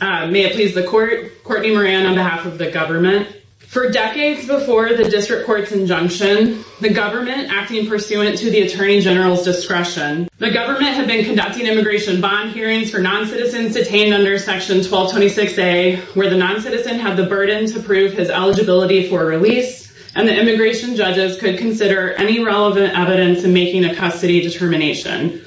May it please the court, Courtney Moran on behalf of the government. For decades before the District Court's injunction, the government, acting pursuant to the Attorney General's discretion, the government had been conducting immigration bond hearings for noncitizens detained under Section 1226A where the noncitizen had the burden to prove his eligibility for release and the immigration judges could consider any relevant evidence in making a custody determination.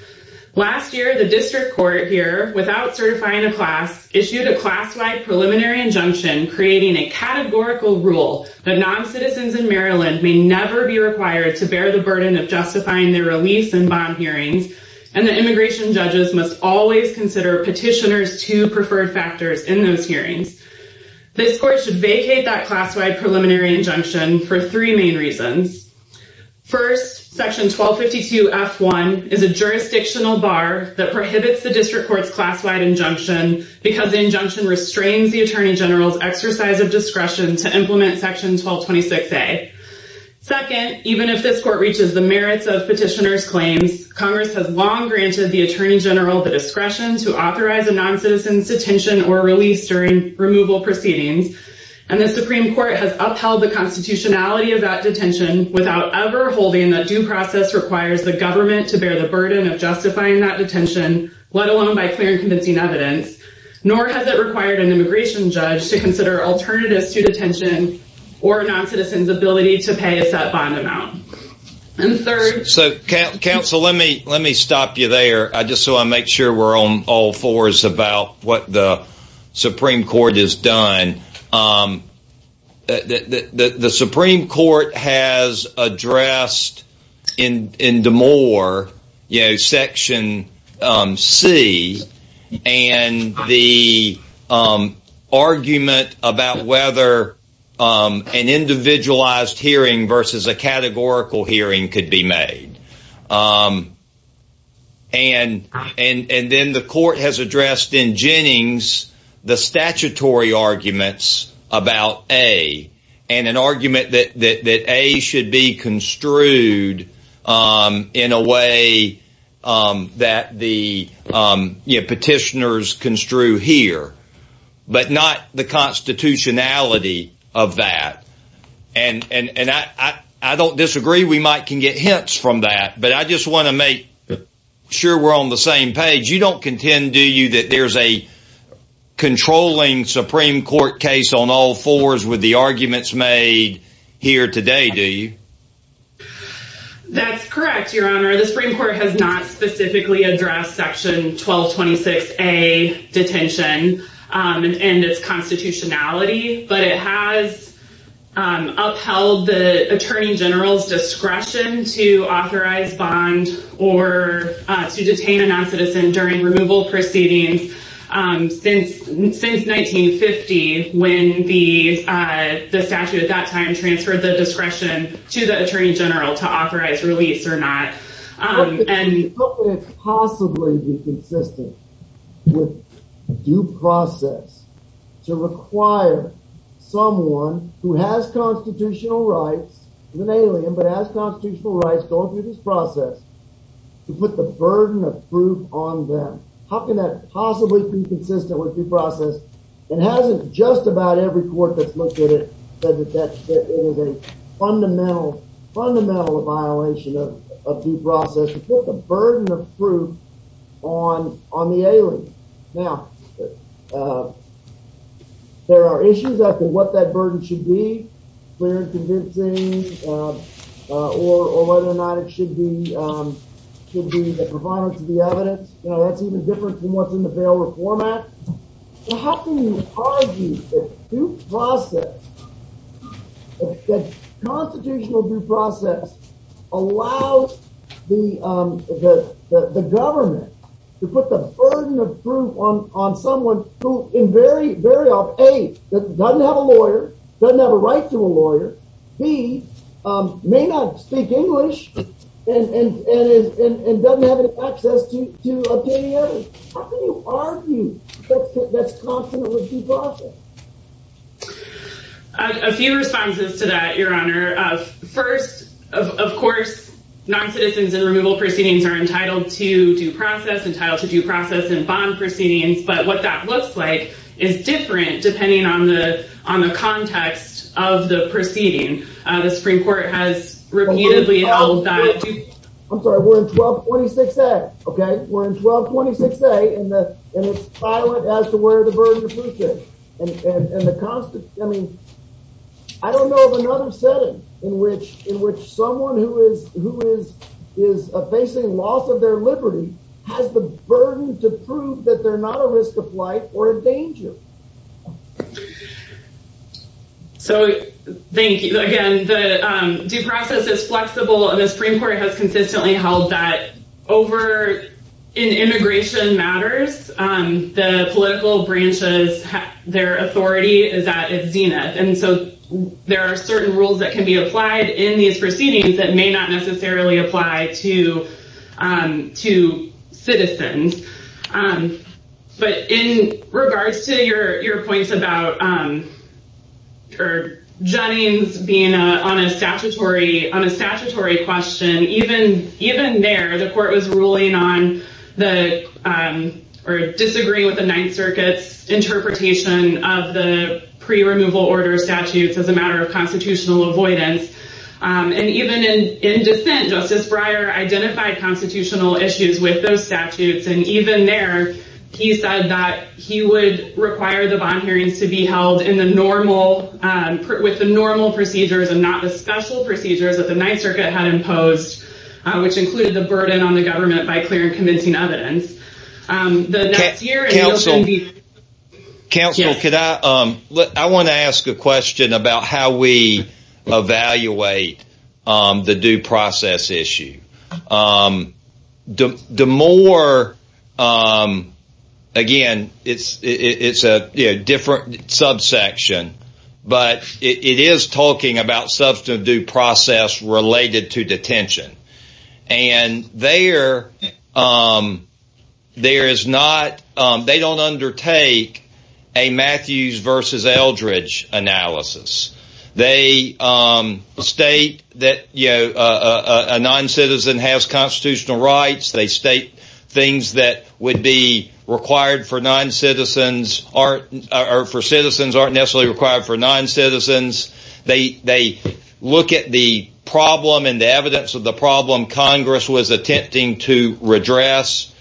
Last year, the District Court here, without certifying a class, issued a class-wide preliminary injunction creating a categorical rule that noncitizens in Maryland may never be required to bear the burden of justifying their release and bond hearings and that immigration judges must always consider petitioner's two preferred factors in those hearings. This court should vacate that class-wide preliminary injunction for three main reasons. First, Section 1252F1 is a jurisdictional bar that prohibits the District Court's class-wide injunction because the injunction restrains the Attorney General's exercise of discretion to implement Section 1226A. Second, even if this court reaches the merits of petitioner's claims, Congress has long granted the Attorney General the discretion to authorize a noncitizen's detention or release during removal proceedings and the Supreme Court has upheld the constitutionality of that detention without ever holding that due process requires the government to bear the burden of justifying that detention, let alone by clear and convincing evidence, nor has it required an immigration judge to consider alternatives to detention or noncitizens' ability to pay a set bond amount. And third, so counsel let me let me stop you there, just so I make sure we're on all about what the Supreme Court has done. The Supreme Court has addressed in in Demore, you know, Section C and the argument about whether an individualized hearing versus a categorical hearing could be made. And then the court has addressed in Jennings the statutory arguments about A, and an argument that A should be construed in a way that the petitioners construe here, but not the constitutionality of that. And I don't disagree, we might can get hints from that, but I just want to make sure we're on the same page. You don't contend, do you, that there's a controlling Supreme Court case on all fours with the arguments made here today, do you? That's correct, Your Honor. The Supreme Court has not specifically addressed Section 1226A detention and its constitutionality, but it has upheld the attorney general's discretion to authorize bond or to detain a noncitizen during removal proceedings since 1950 when the statute at that time transferred the discretion to the attorney general to authorize release or not. How could it possibly be consistent with due process to require someone who has constitutional rights, an alien, but has constitutional rights going through this process to put the burden of proof on them? How can that possibly be consistent with due process? And hasn't just about every put the burden of proof on the alien. Now, there are issues as to what that burden should be, clear and convincing, or whether or not it should be provided to the evidence. Now, that's even different from what's in the bail reform act. How can you argue that due process, that constitutional due process allows the government to put the burden of proof on someone who in very, very often, A, doesn't have a lawyer, doesn't have a right to a lawyer, B, may not speak English, and doesn't have any access to obtaining evidence? How can you argue that's constant with due process? A few responses to that, Your Honor. First, of course, noncitizens in removal proceedings are entitled to due process, entitled to due process in bond proceedings. But what that looks like is different depending on the context of the proceeding. The where the burden of proof is. I mean, I don't know of another setting in which someone who is facing loss of their liberty has the burden to prove that they're not a risk of life or a danger. So, thank you. Again, the due process is flexible and the Supreme Court has consistently held that over in immigration matters, the political branches, their authority is at its zenith. And so there are certain rules that can be applied in these proceedings that may not necessarily apply to citizens. But in regards to your points about or Jennings being on a statutory question, even there, the court was ruling on the or disagree with the Ninth Circuit's interpretation of the pre-removal order statutes as a matter of constitutional avoidance. And even in dissent, Justice Breyer identified constitutional issues with those statutes. And even there, he said that he would require the bond hearings to be held in the normal, with the normal procedures and not the special procedures that the Ninth Circuit had imposed, which included the burden on the government by clear and convincing evidence. Counsel, I want to ask a question about how we evaluate the due process issue. The more, again, it's a different subsection, but it is talking about substantive due process related to detention. And there is not, they don't undertake a Matthews versus Eldredge analysis. They state that, you know, a non-citizen has constitutional rights. They state things that would be required for non-citizens or for citizens aren't necessarily required for non-citizens. They look at the problem and the evidence of the problem Congress was attempting to redress.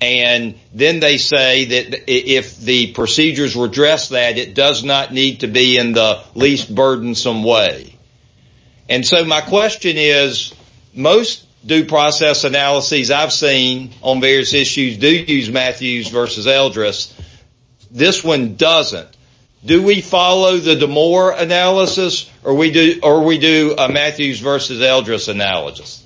And then they say that if the procedures redress that, it does not need to be in the least burdensome way. And so my question is, most due process analyses I've seen on various issues do use Matthews versus Eldredge. This one doesn't. Do we follow the Demore analysis, or we do a Matthews versus Eldredge analysis?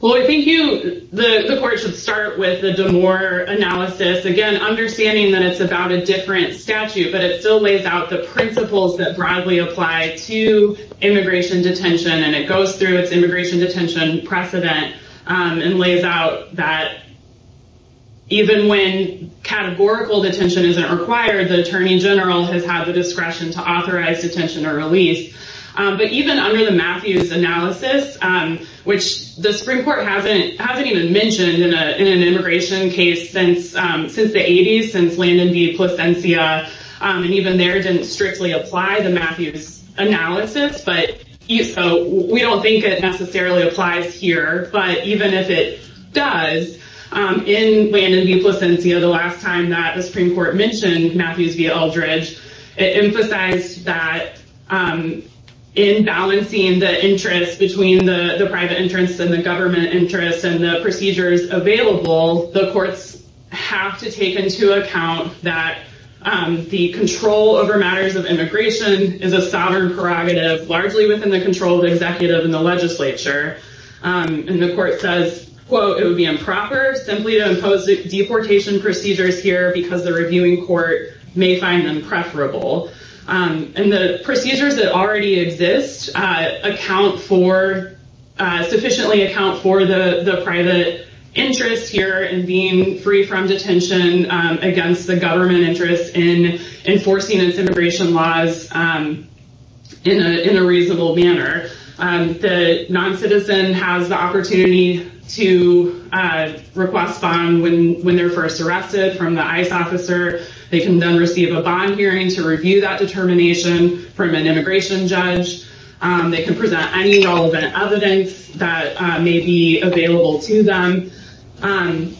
Well, I think you, the court should start with the Demore analysis. Again, understanding that it's about a different statute, but it still lays out the principles that broadly apply to immigration detention. And it goes through its immigration detention precedent and lays out that even when categorical detention isn't required, the attorney general has had the discretion to authorize detention or release. But even under the Matthews analysis, which the Supreme Court hasn't even mentioned in an immigration case since the 80s, since Landon v. Plasencia, and even there didn't strictly apply the Matthews analysis. So we don't think it applies. In Landon v. Plasencia, the last time that the Supreme Court mentioned Matthews v. Eldredge, it emphasized that in balancing the interest between the private interests and the government interests and the procedures available, the courts have to take into account that the control over matters of immigration is a sovereign prerogative, largely within the control of the deportation procedures here because the reviewing court may find them preferable. And the procedures that already exist account for, sufficiently account for the private interest here in being free from detention against the government interest in enforcing its immigration laws in a reasonable manner. The non-citizen has the opportunity to request when they're first arrested from the ICE officer. They can then receive a bond hearing to review that determination from an immigration judge. They can present any relevant evidence that may be available to them. And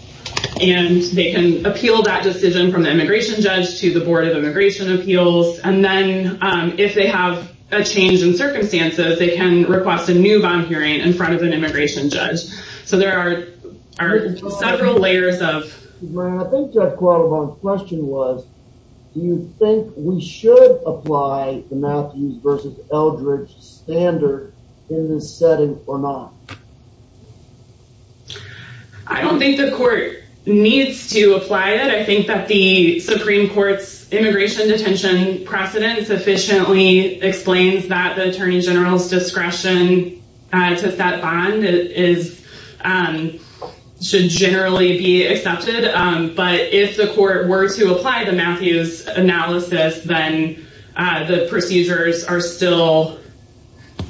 they can appeal that decision from the immigration judge to the Board of Immigration Appeals. And then if they have a change in circumstances, they can request a new bond hearing in front of an immigration judge. So there are several layers of... I think Jeff Qualibon's question was, do you think we should apply the Matthews versus Eldredge standard in this setting or not? I don't think the court needs to apply it. I think that the Supreme Court's immigration detention precedent sufficiently explains that the Attorney General's discretion to set bond should generally be accepted. But if the court were to apply the Matthews analysis, then the procedures are still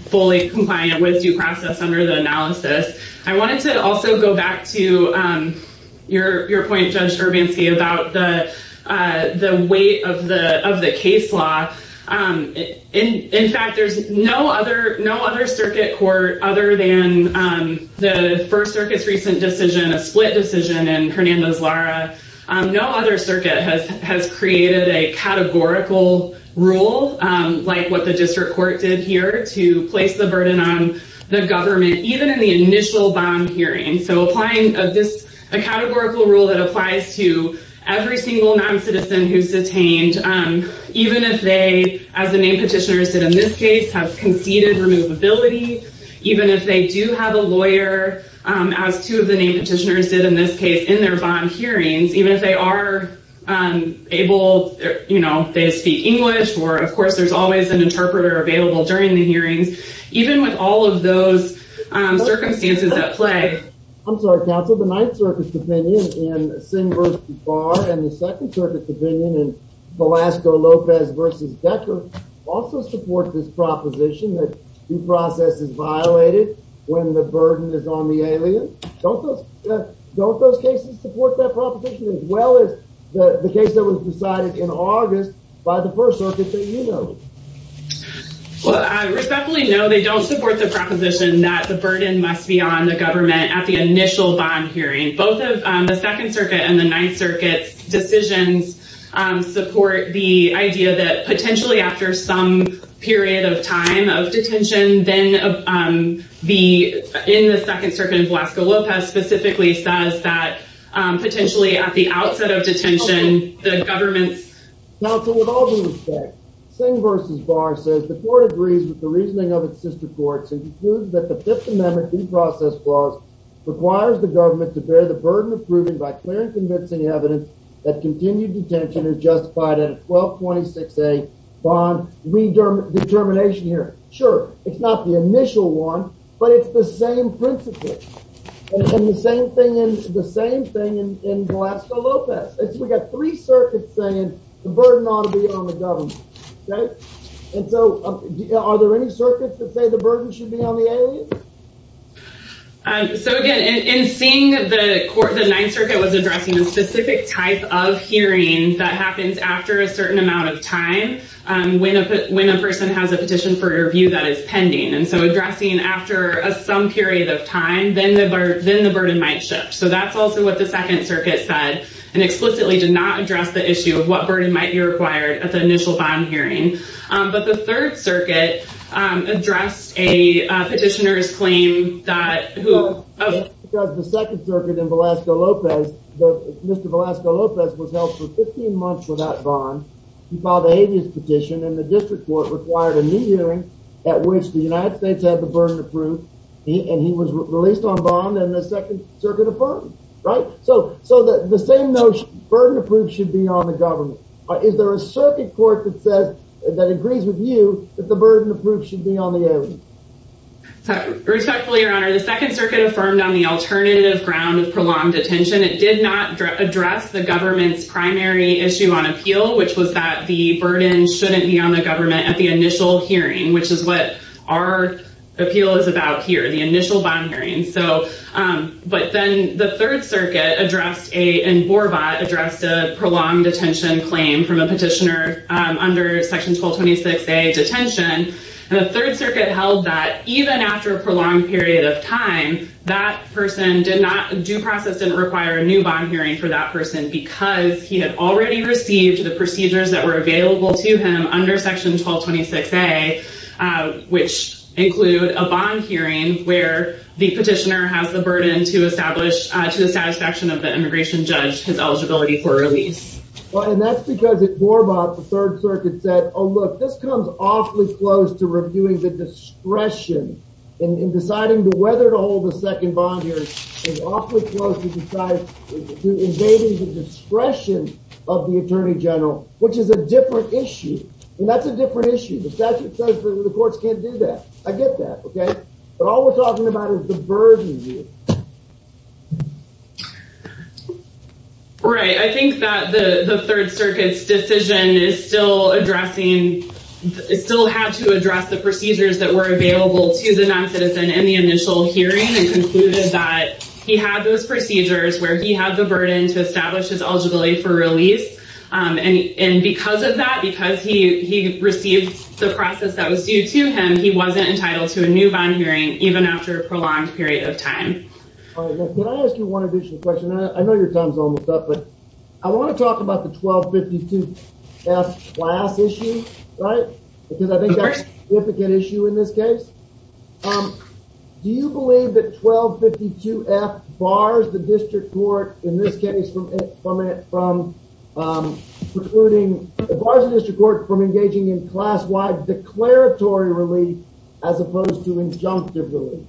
fully compliant with due process under the analysis. I wanted to also go back to your point, Judge Urbanski, about the weight of the case law. In fact, there's no other circuit court other than the First Circuit's recent decision, a split decision in Hernando's-Lara. No other circuit has created a categorical rule like what District Court did here to place the burden on the government, even in the initial bond hearing. So applying a categorical rule that applies to every single non-citizen who's detained, even if they, as the named petitioners did in this case, have conceded removability, even if they do have a lawyer, as two of the named petitioners did in this case in their bond hearings, even with all of those circumstances at play. I'm sorry, Counsel. The Ninth Circuit's opinion in Singh v. Barr and the Second Circuit's opinion in Velasco-Lopez v. Decker also support this proposition that due process is violated when the burden is on the alien. Don't those cases support that proposition as well as the case that was decided in August by the First Circuit that you know? Well, respectfully, no, they don't support the proposition that the burden must be on the government at the initial bond hearing. Both of the Second Circuit and the Ninth Circuit's decisions support the idea that potentially after some period of time of detention, then in the Second Circuit, Velasco-Lopez specifically says that potentially at the outset of detention, the government... Counsel, with all due respect, Singh v. Barr says the court agrees with the reasoning of its sister courts and concludes that the Fifth Amendment due process clause requires the government to bear the burden of proving by clear and convincing evidence that continued detention is justified at a 1226A bond determination hearing. Sure, it's not the initial one, but it's the same principle and the same thing in Velasco-Lopez. We got three circuits saying the burden ought to be on the government, right? And so are there any circuits that say the burden should be on the aliens? So again, in seeing the court, the Ninth Circuit was addressing a specific type of hearing that happens after a certain amount of time when a person has a petition for review that is pending. And so addressing after some period of time, then the burden might shift. So that's also what the did not address the issue of what burden might be required at the initial bond hearing. But the Third Circuit addressed a petitioner's claim that... Because the Second Circuit in Velasco-Lopez, Mr. Velasco-Lopez was held for 15 months without bond. He filed a habeas petition and the district court required a new hearing at which the United States had the burden approved and he was released on bond and the Second Circuit affirmed, right? So the same notion, burden approved should be on the government. Is there a circuit court that agrees with you that the burden approved should be on the aliens? Respectfully, Your Honor, the Second Circuit affirmed on the alternative ground of prolonged detention. It did not address the government's primary issue on appeal, which was that the burden shouldn't be on the government at the initial hearing, which is what our appeal is about here, the initial bond hearing. So, but then the Third Circuit addressed a, in Borbot, addressed a prolonged detention claim from a petitioner under Section 1226A detention. And the Third Circuit held that even after a prolonged period of time, that person did not, due process didn't require a new bond hearing for that person because he had already received the procedures that were available to him under Section 1226A, which include a bond hearing where the petitioner has the burden to establish to the satisfaction of the immigration judge, his eligibility for release. Well, and that's because at Borbot, the Third Circuit said, oh, look, this comes awfully close to reviewing the discretion in deciding whether to hold the second bond hearing. It's awfully close to deciding, to invading the discretion of the attorney general, which is a different issue. And that's a different issue. The statute says that the courts can't do that. I get that. Okay. But all we're talking about is the burden here. Right. I think that the Third Circuit's decision is still addressing, still had to address the procedures that were available to the non-citizen in the initial hearing and concluded that he had those procedures where he had the burden to establish his eligibility for release. And because of that, because he received the process that was due to him, he wasn't entitled to a new bond hearing, even after a prolonged period of time. All right. Now, can I ask you one additional question? I know your time's almost up, but I want to talk about the 1252F class issue, right? Because I think that's a significant issue in this case. Would it prohibit the Barza District Court from engaging in class-wide declaratory relief as opposed to injunctive relief?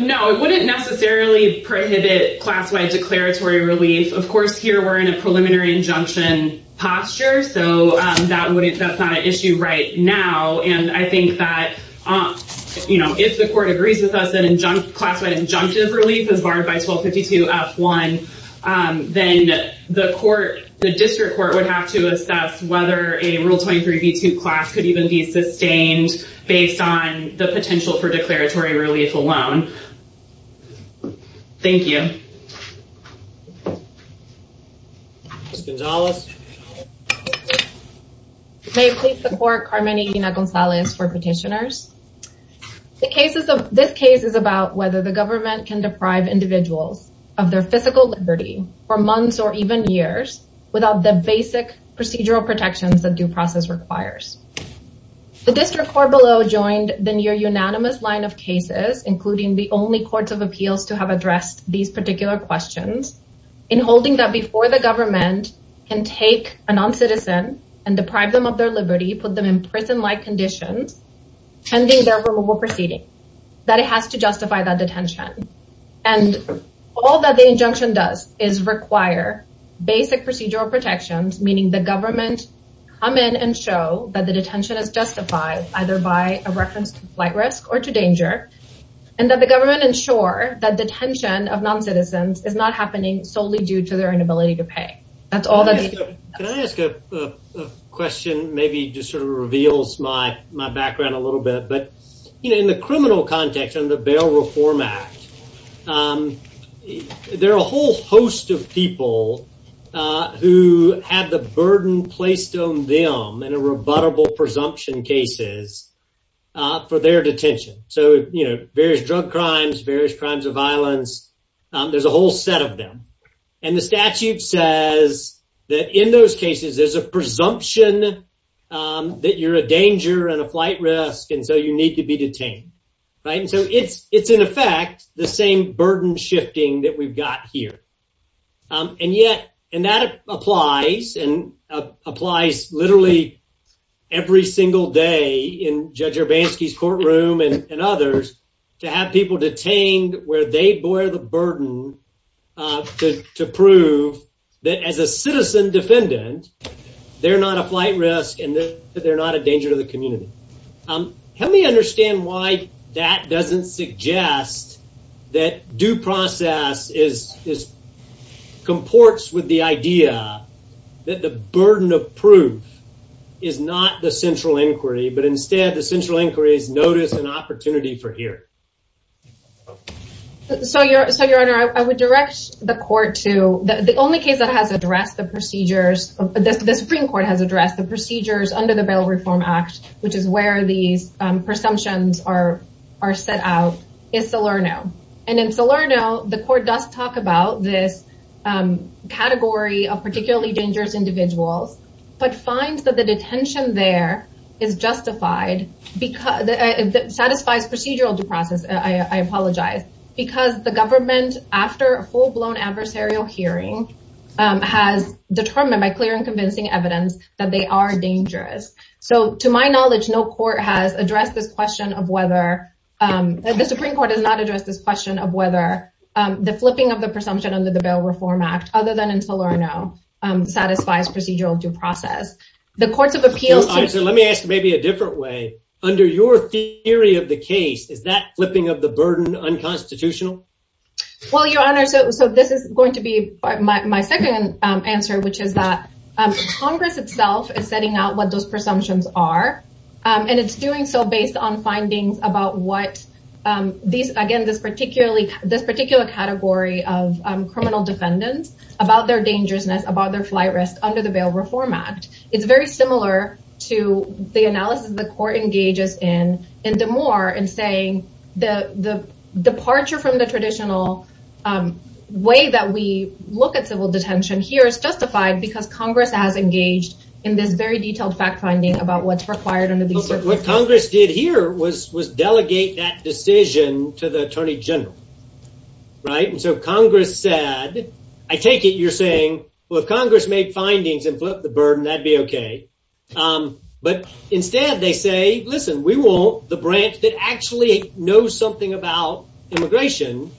No, it wouldn't necessarily prohibit class-wide declaratory relief. Of course, here we're in a preliminary injunction posture, so that's not an issue right now. And I think that if the court agrees with us, then class-wide injunctive relief is barred by 1252F1, then the court, the district court would have to assess whether a Rule 23B2 class could even be sustained based on the potential for declaratory relief alone. Thank you. Ms. Gonzalez? May it please the Court, Carmen and Gina Gonzalez for petitioners. This case is about whether the government can deprive individuals of their physical liberty for months or even years without the basic procedural protections that due process requires. The District Court below joined the near-unanimous line of cases, including the only courts of appeals to have addressed these particular questions, in holding that before the government can take a non-citizen and deprive them of their liberty, put them in prison-like conditions, pending their removal proceeding, that it has to justify that detention. And all that the injunction does is require basic procedural protections, meaning the government come in and show that the detention is justified either by a reference to flight risk or to danger, and that the government ensure that detention of non-citizens is not happening solely due to their but in the criminal context of the Bail Reform Act, there are a whole host of people who have the burden placed on them in a rebuttable presumption cases for their detention. So, various drug crimes, various crimes of violence, there's a whole set of them. And the statute says that in those cases, there's a presumption that you're a danger and a flight risk, and so you need to be detained, right? And so it's in effect the same burden shifting that we've got here. And yet, and that applies, and applies literally every single day in Judge Urbanski's courtroom and others, to have people detained where they bear the burden to prove that as a citizen defendant, they're not a flight risk and they're not a danger to the community. Help me understand why that doesn't suggest that due process is comports with the idea that the burden of proof is not the central inquiry, but instead the central inquiry is notice and opportunity for here. So, Your Honor, I would direct the court to, the only case that has addressed the procedures, the Supreme Court has addressed the procedures under the Bail Reform Act, which is where these presumptions are set out, is Salerno. And in Salerno, the court does talk about this category of particularly dangerous individuals, but finds that the detention there is justified, satisfies procedural due process, I apologize, because the government, after a full-blown adversarial hearing, has determined by clear and convincing evidence that they are dangerous. So, to my knowledge, no court has addressed this question of whether, the Supreme Court has not addressed this question of whether the flipping of the presumption under the Bail Reform Act, other than in Salerno, satisfies procedural due process. Let me ask maybe a different way. Under your theory of the case, is that flipping of the burden unconstitutional? Well, Your Honor, so this is going to be my second answer, which is that Congress itself is setting out what those presumptions are, and it's doing so based on findings about what these, again, this particular category of criminal defendants, about their dangerousness, about their flight risk under the Bail Reform Act. It's very similar to the analysis the court engages in, in DeMoore, in saying the departure from the traditional way that we look at civil detention here is justified because Congress has engaged in this very detailed fact finding about what's required under these circumstances. What Congress did here was delegate that decision to the Attorney General, right? And so Congress said, I take it you're saying, well, if Congress made findings and flipped the burden, that'd be okay. But instead, they say, listen, we want the branch that actually knows something about immigration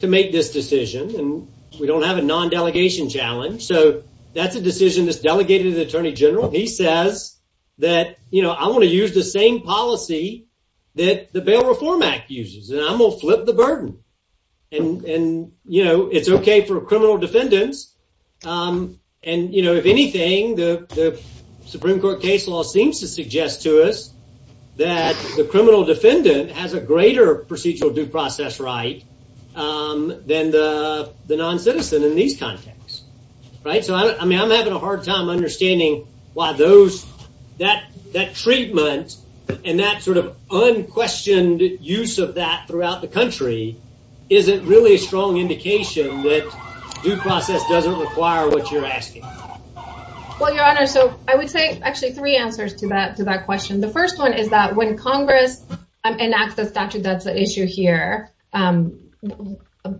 to make this decision, and we don't have a non-delegation challenge. So that's a decision that's delegated to the Attorney General. He says that, you know, I want to use the same policy that the Bail Reform Act uses, and I'm going to flip the burden. And, you know, it's okay for criminal defendants. And, you know, if anything, the Supreme Court case law seems to suggest to us that the criminal defendant has a greater procedural due process right than the non-citizen in these contexts, right? So, I mean, I'm having a hard time understanding why that treatment and that sort of unquestioned use of that throughout the country isn't really a strong indication that due process doesn't require what you're asking. Well, Your Honor, so I would say actually three answers to that question. The first one is that when Congress enacts a statute that's an issue here,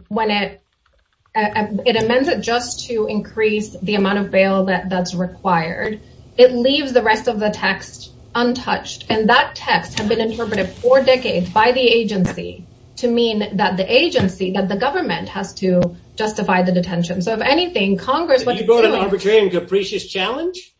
when it amends it just to increase the amount of bail that's required, it leaves the rest of the text untouched. And that text has been interpreted for decades by the agency to mean that the agency, that the government, has to justify the detention. So, if anything, Congress... But you brought an arbitrary and capricious challenge?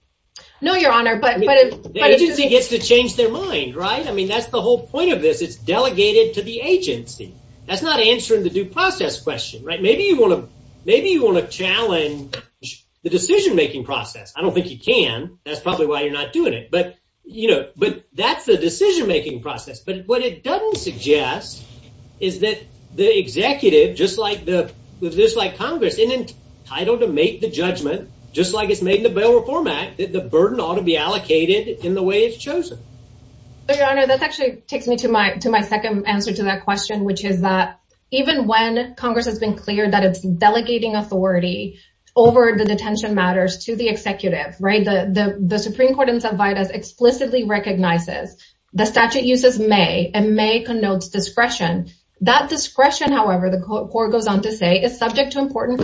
No, Your Honor, but... The agency gets to change their mind, right? I mean, that's the whole point of this. It's delegated to the agency. That's not answering the due process question, right? Maybe you want to challenge the decision-making process. I don't think you can. That's probably why you're not doing it. But, you know, but that's the decision-making process. But what it doesn't suggest is that the executive, just like Congress, is entitled to make the burden that ought to be allocated in the way it's chosen. So, Your Honor, that actually takes me to my second answer to that question, which is that even when Congress has been clear that it's delegating authority over the detention matters to the executive, right? The Supreme Court in Cervantes explicitly recognizes the statute uses may and may connotes discretion. That discretion, however, the court goes on to say, is subject to But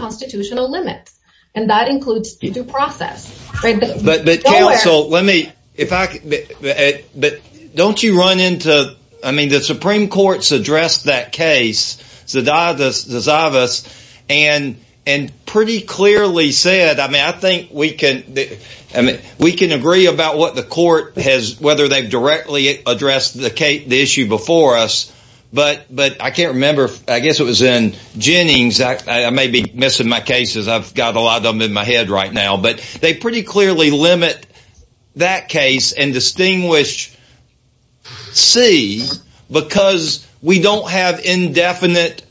counsel, let me... But don't you run into... I mean, the Supreme Court's addressed that case, and pretty clearly said, I mean, I think we can agree about what the court has, whether they've directly addressed the issue before us. But I can't remember. I guess it was in Jennings. I may be missing my cases. I've got a lot of them in my head right now. But they pretty clearly limit that case and distinguish C because we don't have an indefinite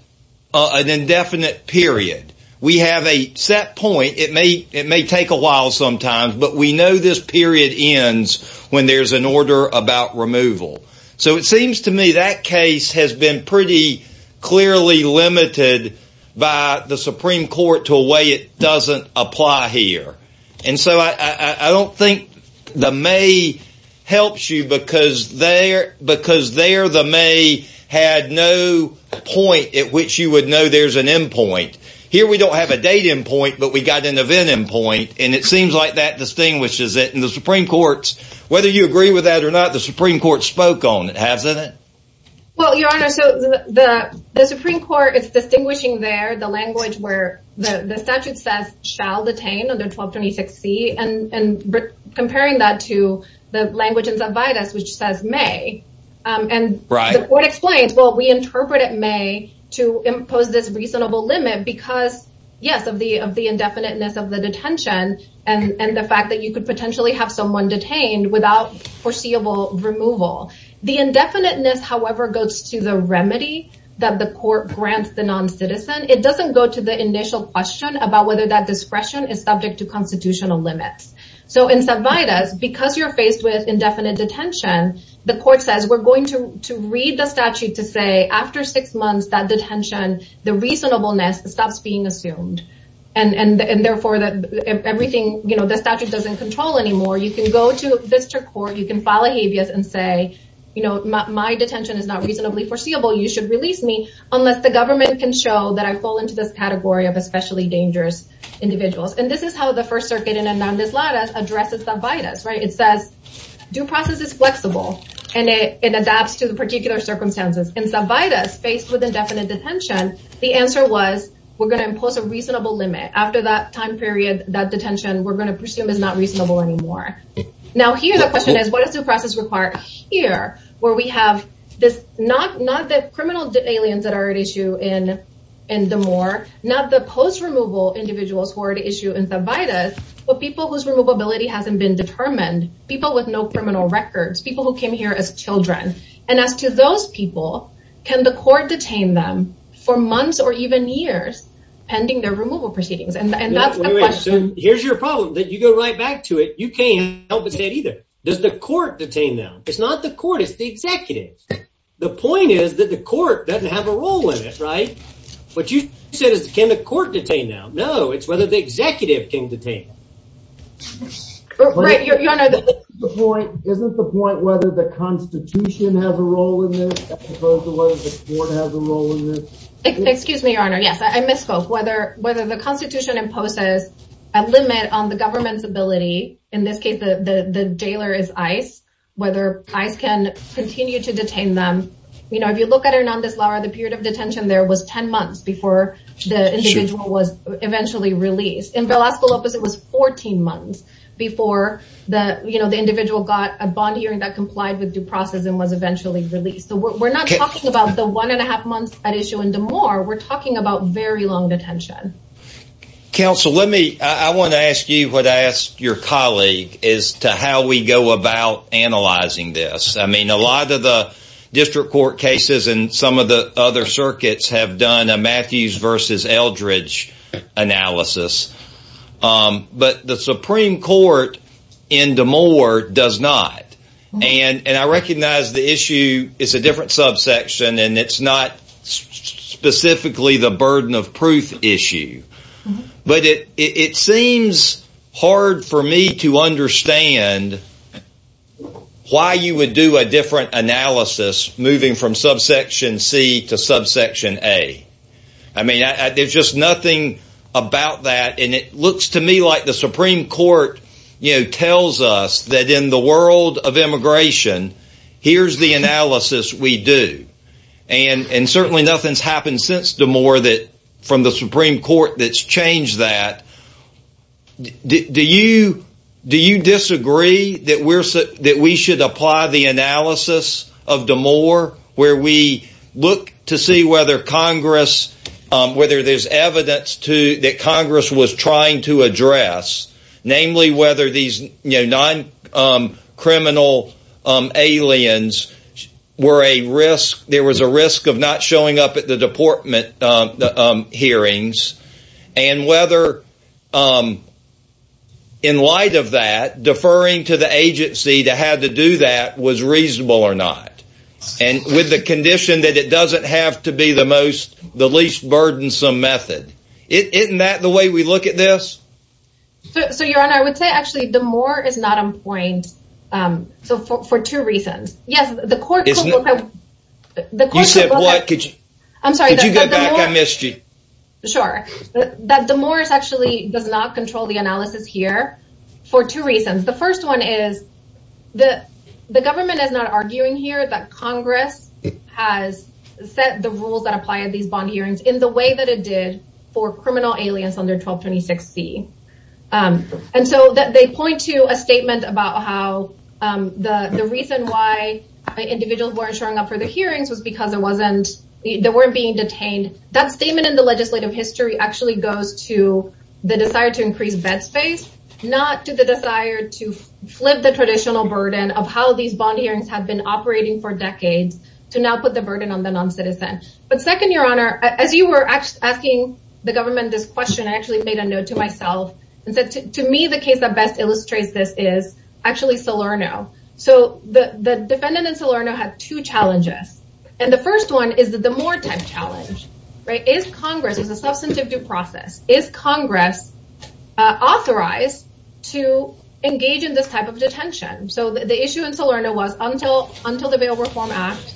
period. We have a set point. It may take a while sometimes, but we know this period ends when there's an order about removal. So it seems to me that case has been pretty clearly limited by the And so I don't think the may helps you because there the may had no point at which you would know there's an end point. Here, we don't have a date end point, but we got an event end point. And it seems like that distinguishes it. And the Supreme Court's, whether you agree with that or not, the Supreme Court spoke on it, hasn't it? Well, Your Honor, so the Supreme Court is and comparing that to the language in Zavidas, which says may and the court explains, well, we interpret it may to impose this reasonable limit because, yes, of the indefiniteness of the detention and the fact that you could potentially have someone detained without foreseeable removal. The indefiniteness, however, goes to the remedy that the court grants the noncitizen. It doesn't go to the initial question about whether that discretion is subject to constitutional limits. So in Zavidas, because you're faced with indefinite detention, the court says we're going to read the statute to say after six months, that detention, the reasonableness stops being assumed. And therefore, everything, you know, the statute doesn't control anymore. You can go to a district court, you can file a habeas and say, you know, my detention is not reasonably foreseeable. You should release me unless the government can show that I fall into this category of especially dangerous individuals. And this is how the First Circuit in Hernandez-Lara addresses Zavidas, right? It says due process is flexible and it adapts to the particular circumstances. In Zavidas, faced with indefinite detention, the answer was we're going to impose a reasonable limit. After that time period, that detention we're going to presume is not reasonable anymore. Now, here the question is, what is due process required here, where we have this, not the post-removal individuals who are at issue in Zavidas, but people whose removability hasn't been determined, people with no criminal records, people who came here as children. And as to those people, can the court detain them for months or even years pending their removal proceedings? Here's your problem, that you go right back to it, you can't help but say it either. Does the court detain them? It's not the court, it's the executive. The point is that the court doesn't have a role in it, right? What you said is, can the court detain them? No, it's whether the executive can detain them. Right, Your Honor. Isn't the point whether the Constitution has a role in this as opposed to whether the court has a role in this? Excuse me, Your Honor. Yes, I misspoke. Whether the Constitution imposes a limit on the government's ability, in this case, the jailer is ICE, whether ICE can continue to detain them. If you look at Hernandez-Lara, the period of detention there was 10 months before the individual was eventually released. In Velasco-Lopez, it was 14 months before the individual got a bond hearing that complied with due process and was eventually released. So we're not talking about the one and a half months at issue in D'Amour, we're talking about very long detention. Counsel, I want to ask you what I asked your colleague as to how we go about analyzing this. A lot of the district court cases and some of the other circuits have done a Matthews versus Eldridge analysis, but the Supreme Court in D'Amour does not. And I recognize the issue is a different subsection and it's not specifically the burden of proof issue. But it seems hard for me to do a different analysis moving from subsection C to subsection A. I mean, there's just nothing about that. And it looks to me like the Supreme Court tells us that in the world of immigration, here's the analysis we do. And certainly nothing's happened since D'Amour that from the Supreme Court that's changed that. Do you disagree that we should apply the analysis of D'Amour where we look to see whether Congress, whether there's evidence that Congress was trying to address, namely whether these non-criminal aliens were a risk, there was a risk of not hearings and whether in light of that, deferring to the agency to have to do that was reasonable or not. And with the condition that it doesn't have to be the most, the least burdensome method, isn't that the way we look at this? So your honor, I would say actually D'Amour is not on point. So for two reasons. You said what? Could you go back? I missed you. Sure. That D'Amour actually does not control the analysis here for two reasons. The first one is that the government is not arguing here that Congress has set the rules that apply at these bond hearings in the way that it did for criminal aliens under 1226C. And so they point to a the reason why individuals weren't showing up for the hearings was because they weren't being detained. That statement in the legislative history actually goes to the desire to increase bed space, not to the desire to flip the traditional burden of how these bond hearings have been operating for decades to now put the burden on the non-citizen. But second, your honor, as you were asking the government this question, I actually made a note to myself and said to me, the case that best illustrates this is actually Salerno. So the defendant in Salerno had two challenges. And the first one is that the more type challenge, right? Is Congress as a substantive due process, is Congress authorized to engage in this type of detention? So the issue in Salerno was until the Bail Reform Act,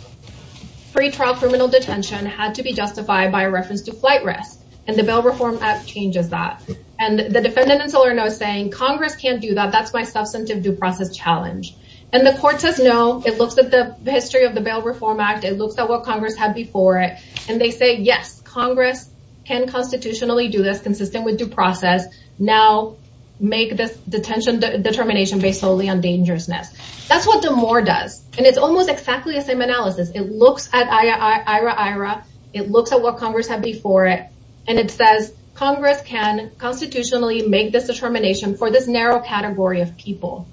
free trial criminal detention had to be saying Congress can't do that. That's my substantive due process challenge. And the court says, no, it looks at the history of the Bail Reform Act. It looks at what Congress had before it. And they say, yes, Congress can constitutionally do this consistent with due process. Now make this detention determination based solely on dangerousness. That's what the more does. And it's almost exactly the same analysis. It looks at IRA. It looks at what constitutionally make this determination for this narrow category of people.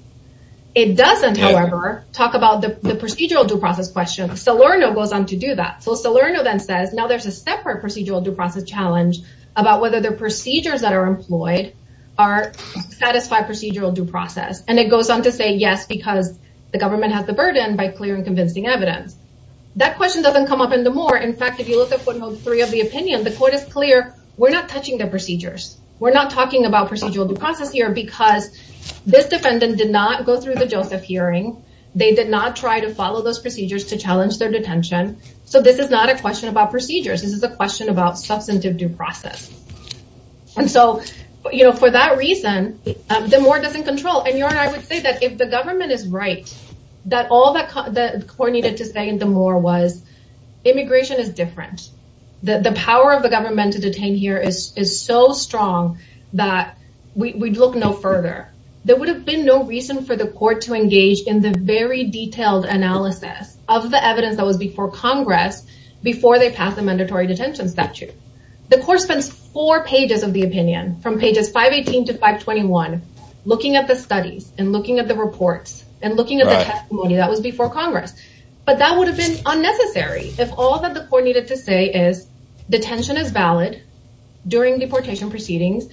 It doesn't, however, talk about the procedural due process question. Salerno goes on to do that. So Salerno then says, now there's a separate procedural due process challenge about whether the procedures that are employed are satisfied procedural due process. And it goes on to say, yes, because the government has the burden by clear and convincing evidence. That question doesn't come up in the more. In fact, if you look at one of three of the opinion, the court is clear. We're not touching the procedures. We're not talking about procedural due process here because this defendant did not go through the Joseph hearing. They did not try to follow those procedures to challenge their detention. So this is not a question about procedures. This is a question about substantive due process. And so for that reason, the more doesn't control. And I would say that if the government is right, that all that the court needed to say in the more was immigration is different. The power of the government to detain here is so strong that we'd look no further. There would have been no reason for the court to engage in the very detailed analysis of the evidence that was before Congress before they pass a mandatory detention statute. The court spends four pages of the opinion from pages 518 to 521 looking at the studies and looking at the reports and looking at the testimony that was before Congress. But that would have been unnecessary if all that the court needed to say is detention is valid during deportation proceedings.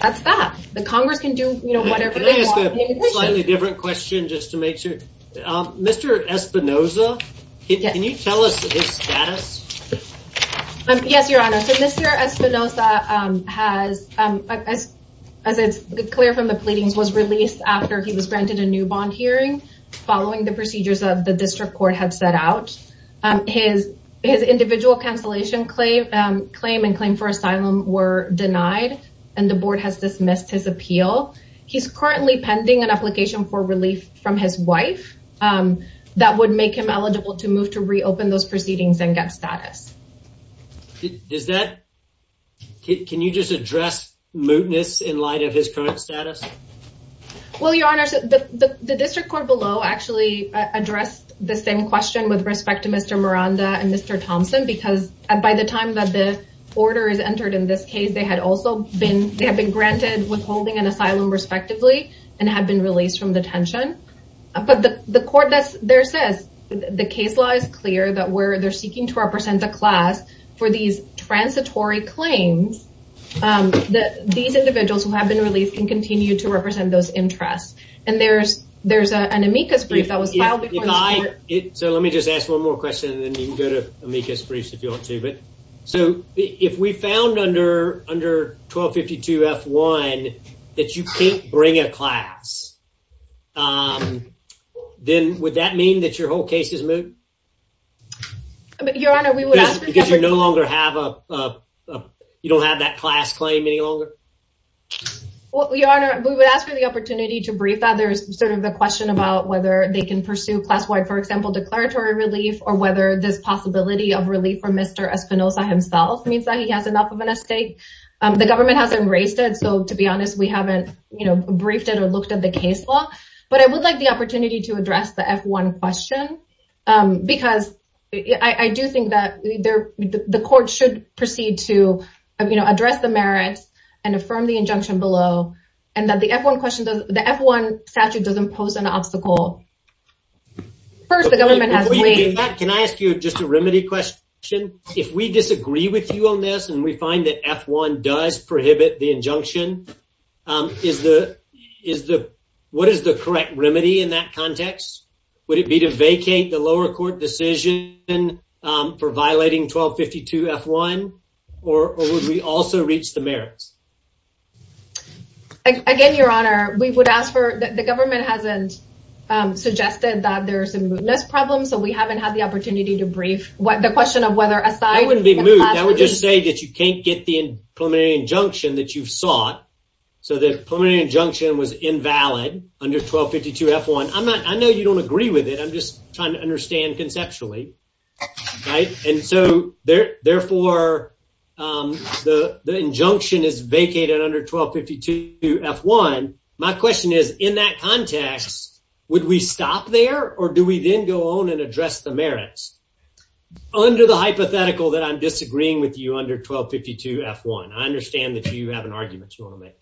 That's that. The Congress can do whatever they want. Can I ask a slightly different question, just to make sure? Mr. Espinoza, can you tell us his status? Yes, Your Honor. So Mr. Espinoza has, as it's clear from the pleadings, was released after he was granted a new bond hearing following the procedures of the district court had set out. His individual cancellation claim and claim for asylum were denied and the board has dismissed his appeal. He's currently pending an application for relief from his wife that would make him eligible to move to reopen those proceedings and get status. Can you just address mootness in light of his current status? Well, Your Honor, the district court below actually addressed the same question with respect to Mr. Miranda and Mr. Thompson, because by the time that the order is entered in this case, they had also been they have been granted withholding an asylum respectively and have been released from detention. But the court that's there says the case law is clear that where they're seeking to represent the class for these transitory claims, that these individuals who have been released can continue to represent those interests. And there's an amicus brief that was filed before the court. So let me just ask one more question and then you can go to amicus briefs if you want to. So if we found under 1252 F1 that you can't bring a class, then would that mean that your whole case is moot? Your Honor, we would ask- Because you no longer have a, you don't have that class claim any longer? Well, Your Honor, we would ask for the opportunity to brief that. There's sort of the question about whether they can pursue class-wide, for example, declaratory relief, or whether this possibility of relief for Mr. Espinosa himself means that he has enough of an estate. The government hasn't raised it. So to be honest, we haven't briefed it or looked at the case law. But I would like the opportunity to address the F1 question, because I do think that the court should proceed to address the merits and affirm the injunction below. And that the F1 question, the F1 statute doesn't pose an obstacle. First, the government has to- Before you do that, can I ask you just a remedy question? If we disagree with you on this and we find that F1 does prohibit the injunction, what is the correct remedy in that context? Would it be to vacate the lower court decision for violating 1252 F1? Or would we also reach the merits? Again, Your Honor, we would ask for- The government hasn't suggested that there's a mootness problem. So we haven't had the opportunity to brief. The question of whether- That wouldn't be moot. That would just say that you can't get the preliminary injunction that you've sought. So the preliminary injunction was invalid under 1252 F1. I know you don't agree with it. I'm just trying to understand conceptually. And so therefore, the injunction is vacated under 1252 F1. My question is, in that context, would we stop there or do we then go on and address the merits? Under the hypothetical that I'm disagreeing with you under 1252 F1, I understand that you have an argument you want to make.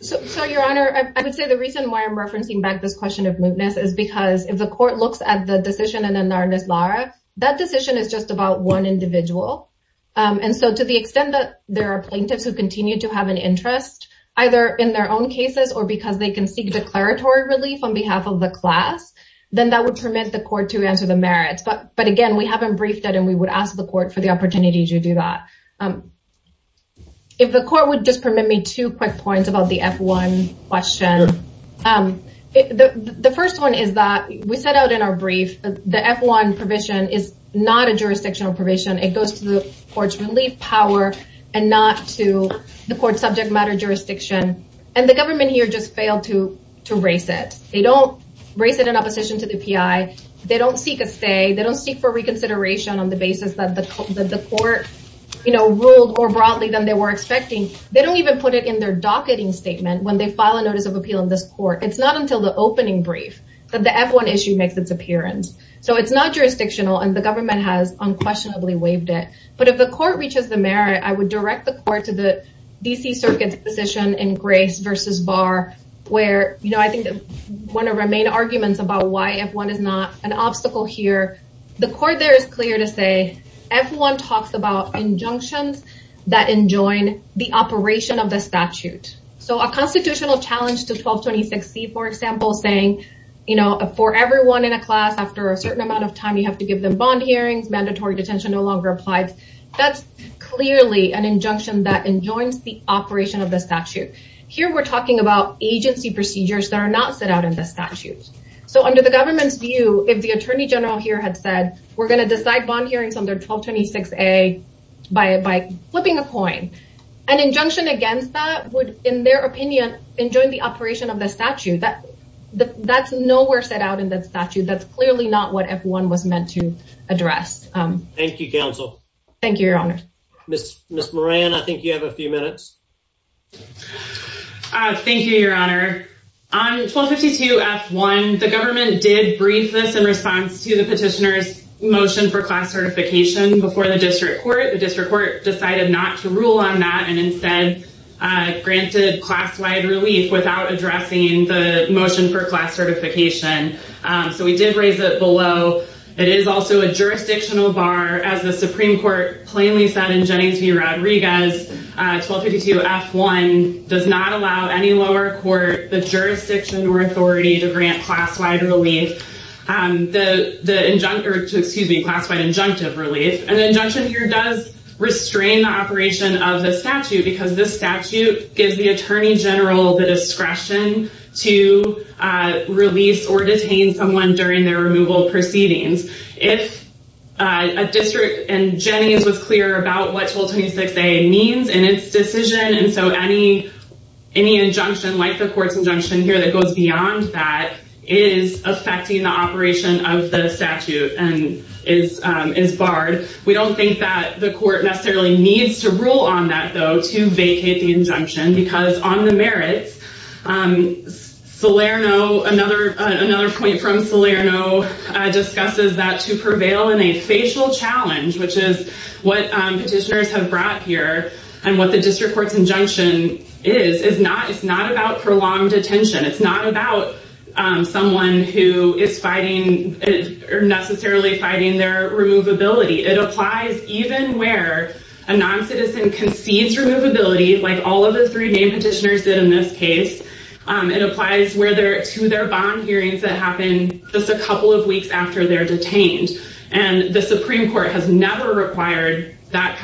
So, Your Honor, I would say the reason why I'm referencing back this question of mootness is because if the court looks at the decision in the Narnes-Lara, that decision is just about one individual. And so to the extent that there are plaintiffs who continue to have an interest, either in their own cases or because they can seek declaratory relief on behalf of the class, then that would permit the court to answer the merits. But again, we haven't briefed it, we would ask the court for the opportunity to do that. If the court would just permit me two quick points about the F1 question. The first one is that we set out in our brief, the F1 provision is not a jurisdictional provision. It goes to the court's relief power and not to the court subject matter jurisdiction. And the government here just failed to raise it. They don't raise it in opposition to the PI. They don't seek a stay. They don't seek for reconsideration on the basis that the court ruled more broadly than they were expecting. They don't even put it in their docketing statement when they file a notice of appeal in this court. It's not until the opening brief that the F1 issue makes its appearance. So it's not jurisdictional and the government has unquestionably waived it. But if the court reaches the merit, I would direct the court to the DC Circuit's position in Grace versus Barr, where I think one of our main arguments about why F1 is not an obstacle here. The court there is clear to say F1 talks about injunctions that enjoin the operation of the statute. So a constitutional challenge to 1226C, for example, saying for everyone in a class, after a certain amount of time, you have to give them bond hearings, mandatory detention no longer applies. That's clearly an injunction that enjoins the operation of the statute. Here we're talking about agency procedures that are not set out in the statute. So under the government's view, if the Attorney General here had said, we're going to decide bond hearings under 1226A by flipping a coin, an injunction against that would, in their opinion, enjoin the operation of the statute. That's nowhere set out in the statute. That's clearly not what F1 was meant to address. Thank you, Counsel. Thank you, Your Honor. Ms. Moran, I think you have a few minutes. Thank you, Your Honor. On 1252F1, the government did brief this in response to the petitioner's motion for class certification before the district court. The district court decided not to rule on that and instead granted class-wide relief without addressing the motion for class certification. So we did raise it below. It is also a jurisdictional bar. As the Supreme Court plainly said in Jennings v. Rodriguez, 1252F1 does not allow any lower court the jurisdiction or authority to grant class-wide relief, excuse me, class-wide injunctive relief. An injunction here does restrain the operation of the statute because this statute gives the during their removal proceedings. If a district in Jennings was clear about what 1226A means in its decision, and so any injunction like the court's injunction here that goes beyond that is affecting the operation of the statute and is barred, we don't think that the court necessarily needs to rule on that, though, to vacate the injunction because on the merits, Salerno, another point from Salerno, discusses that to prevail in a facial challenge, which is what petitioners have brought here and what the district court's injunction is, it's not about prolonged detention. It's not about someone who is fighting or necessarily fighting their removability. It applies even where a non-citizen concedes removability, like all of the three main petitioners did in this case. It applies to their bond hearings that happen just a couple of weeks after they're detained, and the Supreme Court has never required those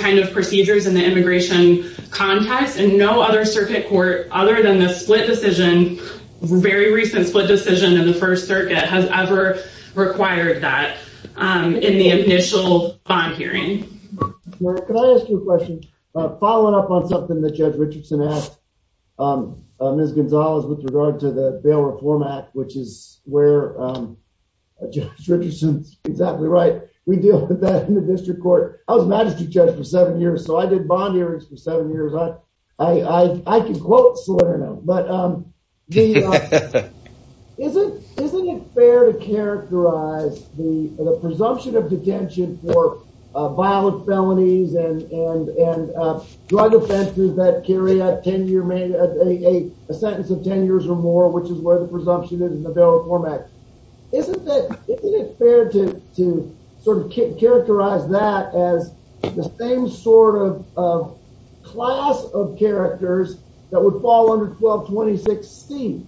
kind of procedures in the immigration context, and no other circuit court, other than the split decision, very recent split decision in the First Circuit, has ever required that in the initial bond hearing. Can I ask you a question? Following up on something that Judge Richardson asked Ms. Gonzalez with regard to the Bail Reform Act, which is where Judge Richardson's exactly right, we deal with that in the district court. I was magistrate judge for seven years, so I did bond hearings for seven years. I can quote Salerno, but isn't it fair to characterize the presumption of felonies and drug offenses that carry a sentence of 10 years or more, which is where the presumption is in the Bail Reform Act. Isn't it fair to sort of characterize that as the same sort of class of characters that would fall under 1226C,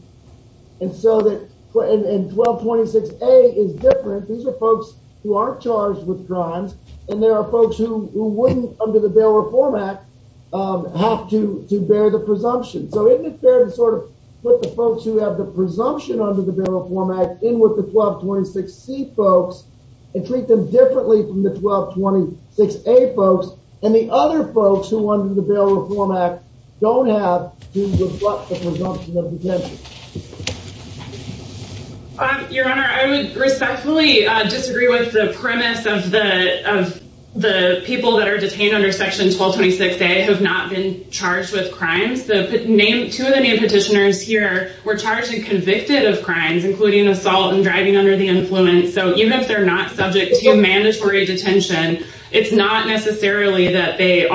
and 1226A is different. These are folks who aren't charged with crimes, and there are folks who wouldn't under the Bail Reform Act have to bear the presumption. So isn't it fair to sort of put the folks who have the presumption under the Bail Reform Act in with the 1226C folks and treat them differently from the 1226A folks, and the other folks who under the Bail Reform Act don't have to reflect the presumption of detention? Your Honor, I would respectfully disagree with the premise of the people that are detained under section 1226A have not been charged with crimes. Two of the name petitioners here were charged and convicted of crimes, including assault and driving under the influence. So even if they're not subject to mandatory detention, it's not necessarily that they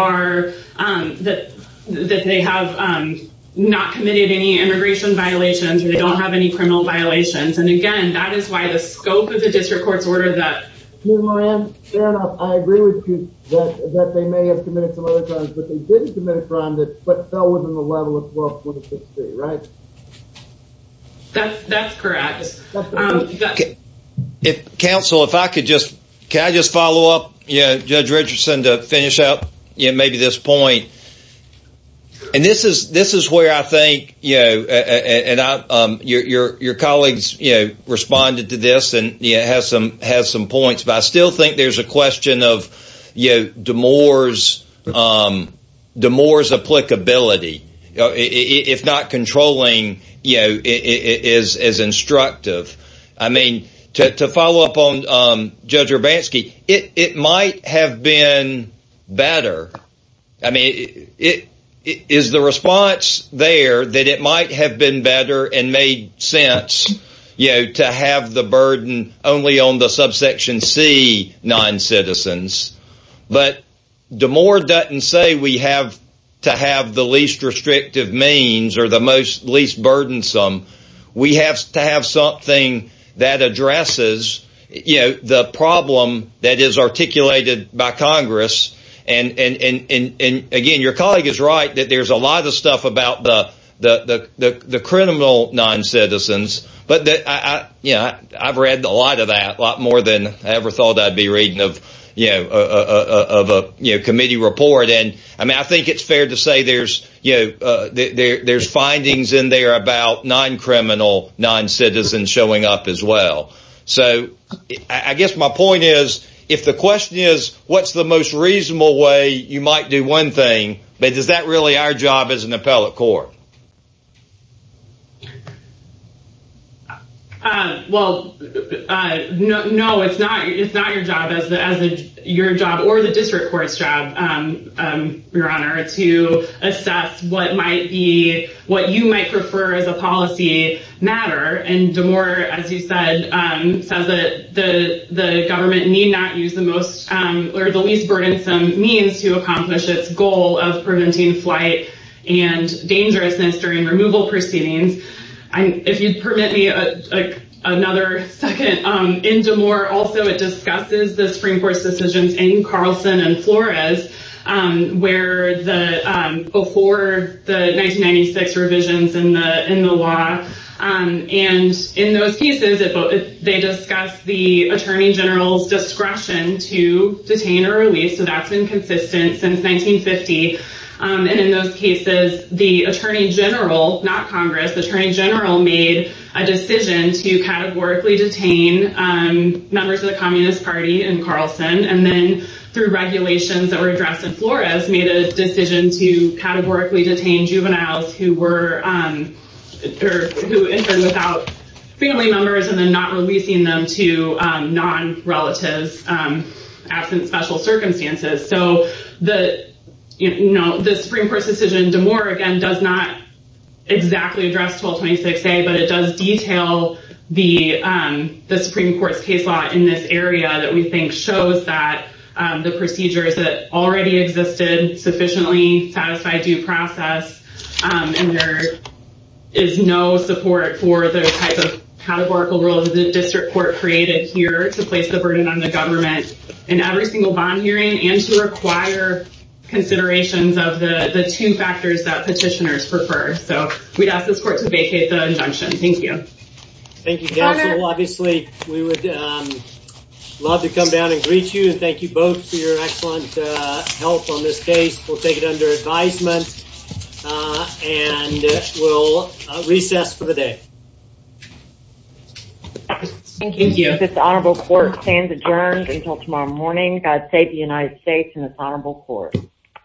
have not committed any immigration violations or they don't have any criminal violations. And again, that is why the scope of the district court's order that... Commissioner Moran, fair enough. I agree with you that they may have committed some other crimes, but they didn't commit a crime that fell within the level of 1226C, right? That's correct. Counsel, if I could just... Can I just follow up Judge Richardson to finish up maybe this point? And this is where I think, and your colleagues responded to this and has some points, but I still think there's a question of DeMoore's applicability, if not controlling as instructive. To follow up on Judge Urbanski, it might have been better. Is the response there that it might have been better and made sense to have the burden only on the subsection C non-citizens, but DeMoore doesn't say we have to have the least restrictive means or the least burdensome. We have to have something that addresses the problem that is articulated by Congress. And again, your colleague is right that there's a lot of stuff about the criminal non-citizens, but I've read a lot of that, a lot more than I ever thought I'd be reading of a committee report. I mean, I think it's fair to say there's findings in there about non-criminal non-citizens showing up as well. So I guess my point is, if the question is, what's the most reasonable way you might do one thing, but is that really our job as an appellate court? Well, no, it's not your job or the district court's job, Your Honor, to assess what you might prefer as a policy matter. And DeMoore, as you said, says that the government need not use the least burdensome means to accomplish its goal of preventing flight and dangerousness during removal proceedings. If you'd permit me another second. In DeMoore, also, it discusses the Supreme Court's decisions in Carlson and Flores before the 1996 revisions in the law. And in those cases, they discuss the attorney general's discretion to detain or and in those cases, the attorney general, not Congress, the attorney general made a decision to categorically detain members of the Communist Party in Carlson and then through regulations that were addressed in Flores made a decision to categorically detain juveniles who entered without family members and then not releasing them to non-relatives, absent special circumstances. So the Supreme Court's decision, DeMoore, again, does not exactly address 1226A, but it does detail the Supreme Court's case law in this area that we think shows that the procedures that already existed sufficiently satisfy due process. And there is no support for the types of categorical rules that the district court created here to place the burden on the government in every single bond hearing and to require considerations of the two factors that petitioners prefer. So we'd ask this court to vacate the injunction. Thank you. Thank you. Obviously, we would love to come down and greet you and thank you both for your excellent help on this case. We'll take it under advisement and we'll recess for the day. Thank you. This honorable court stands adjourned until tomorrow morning. God save the United States and this honorable court.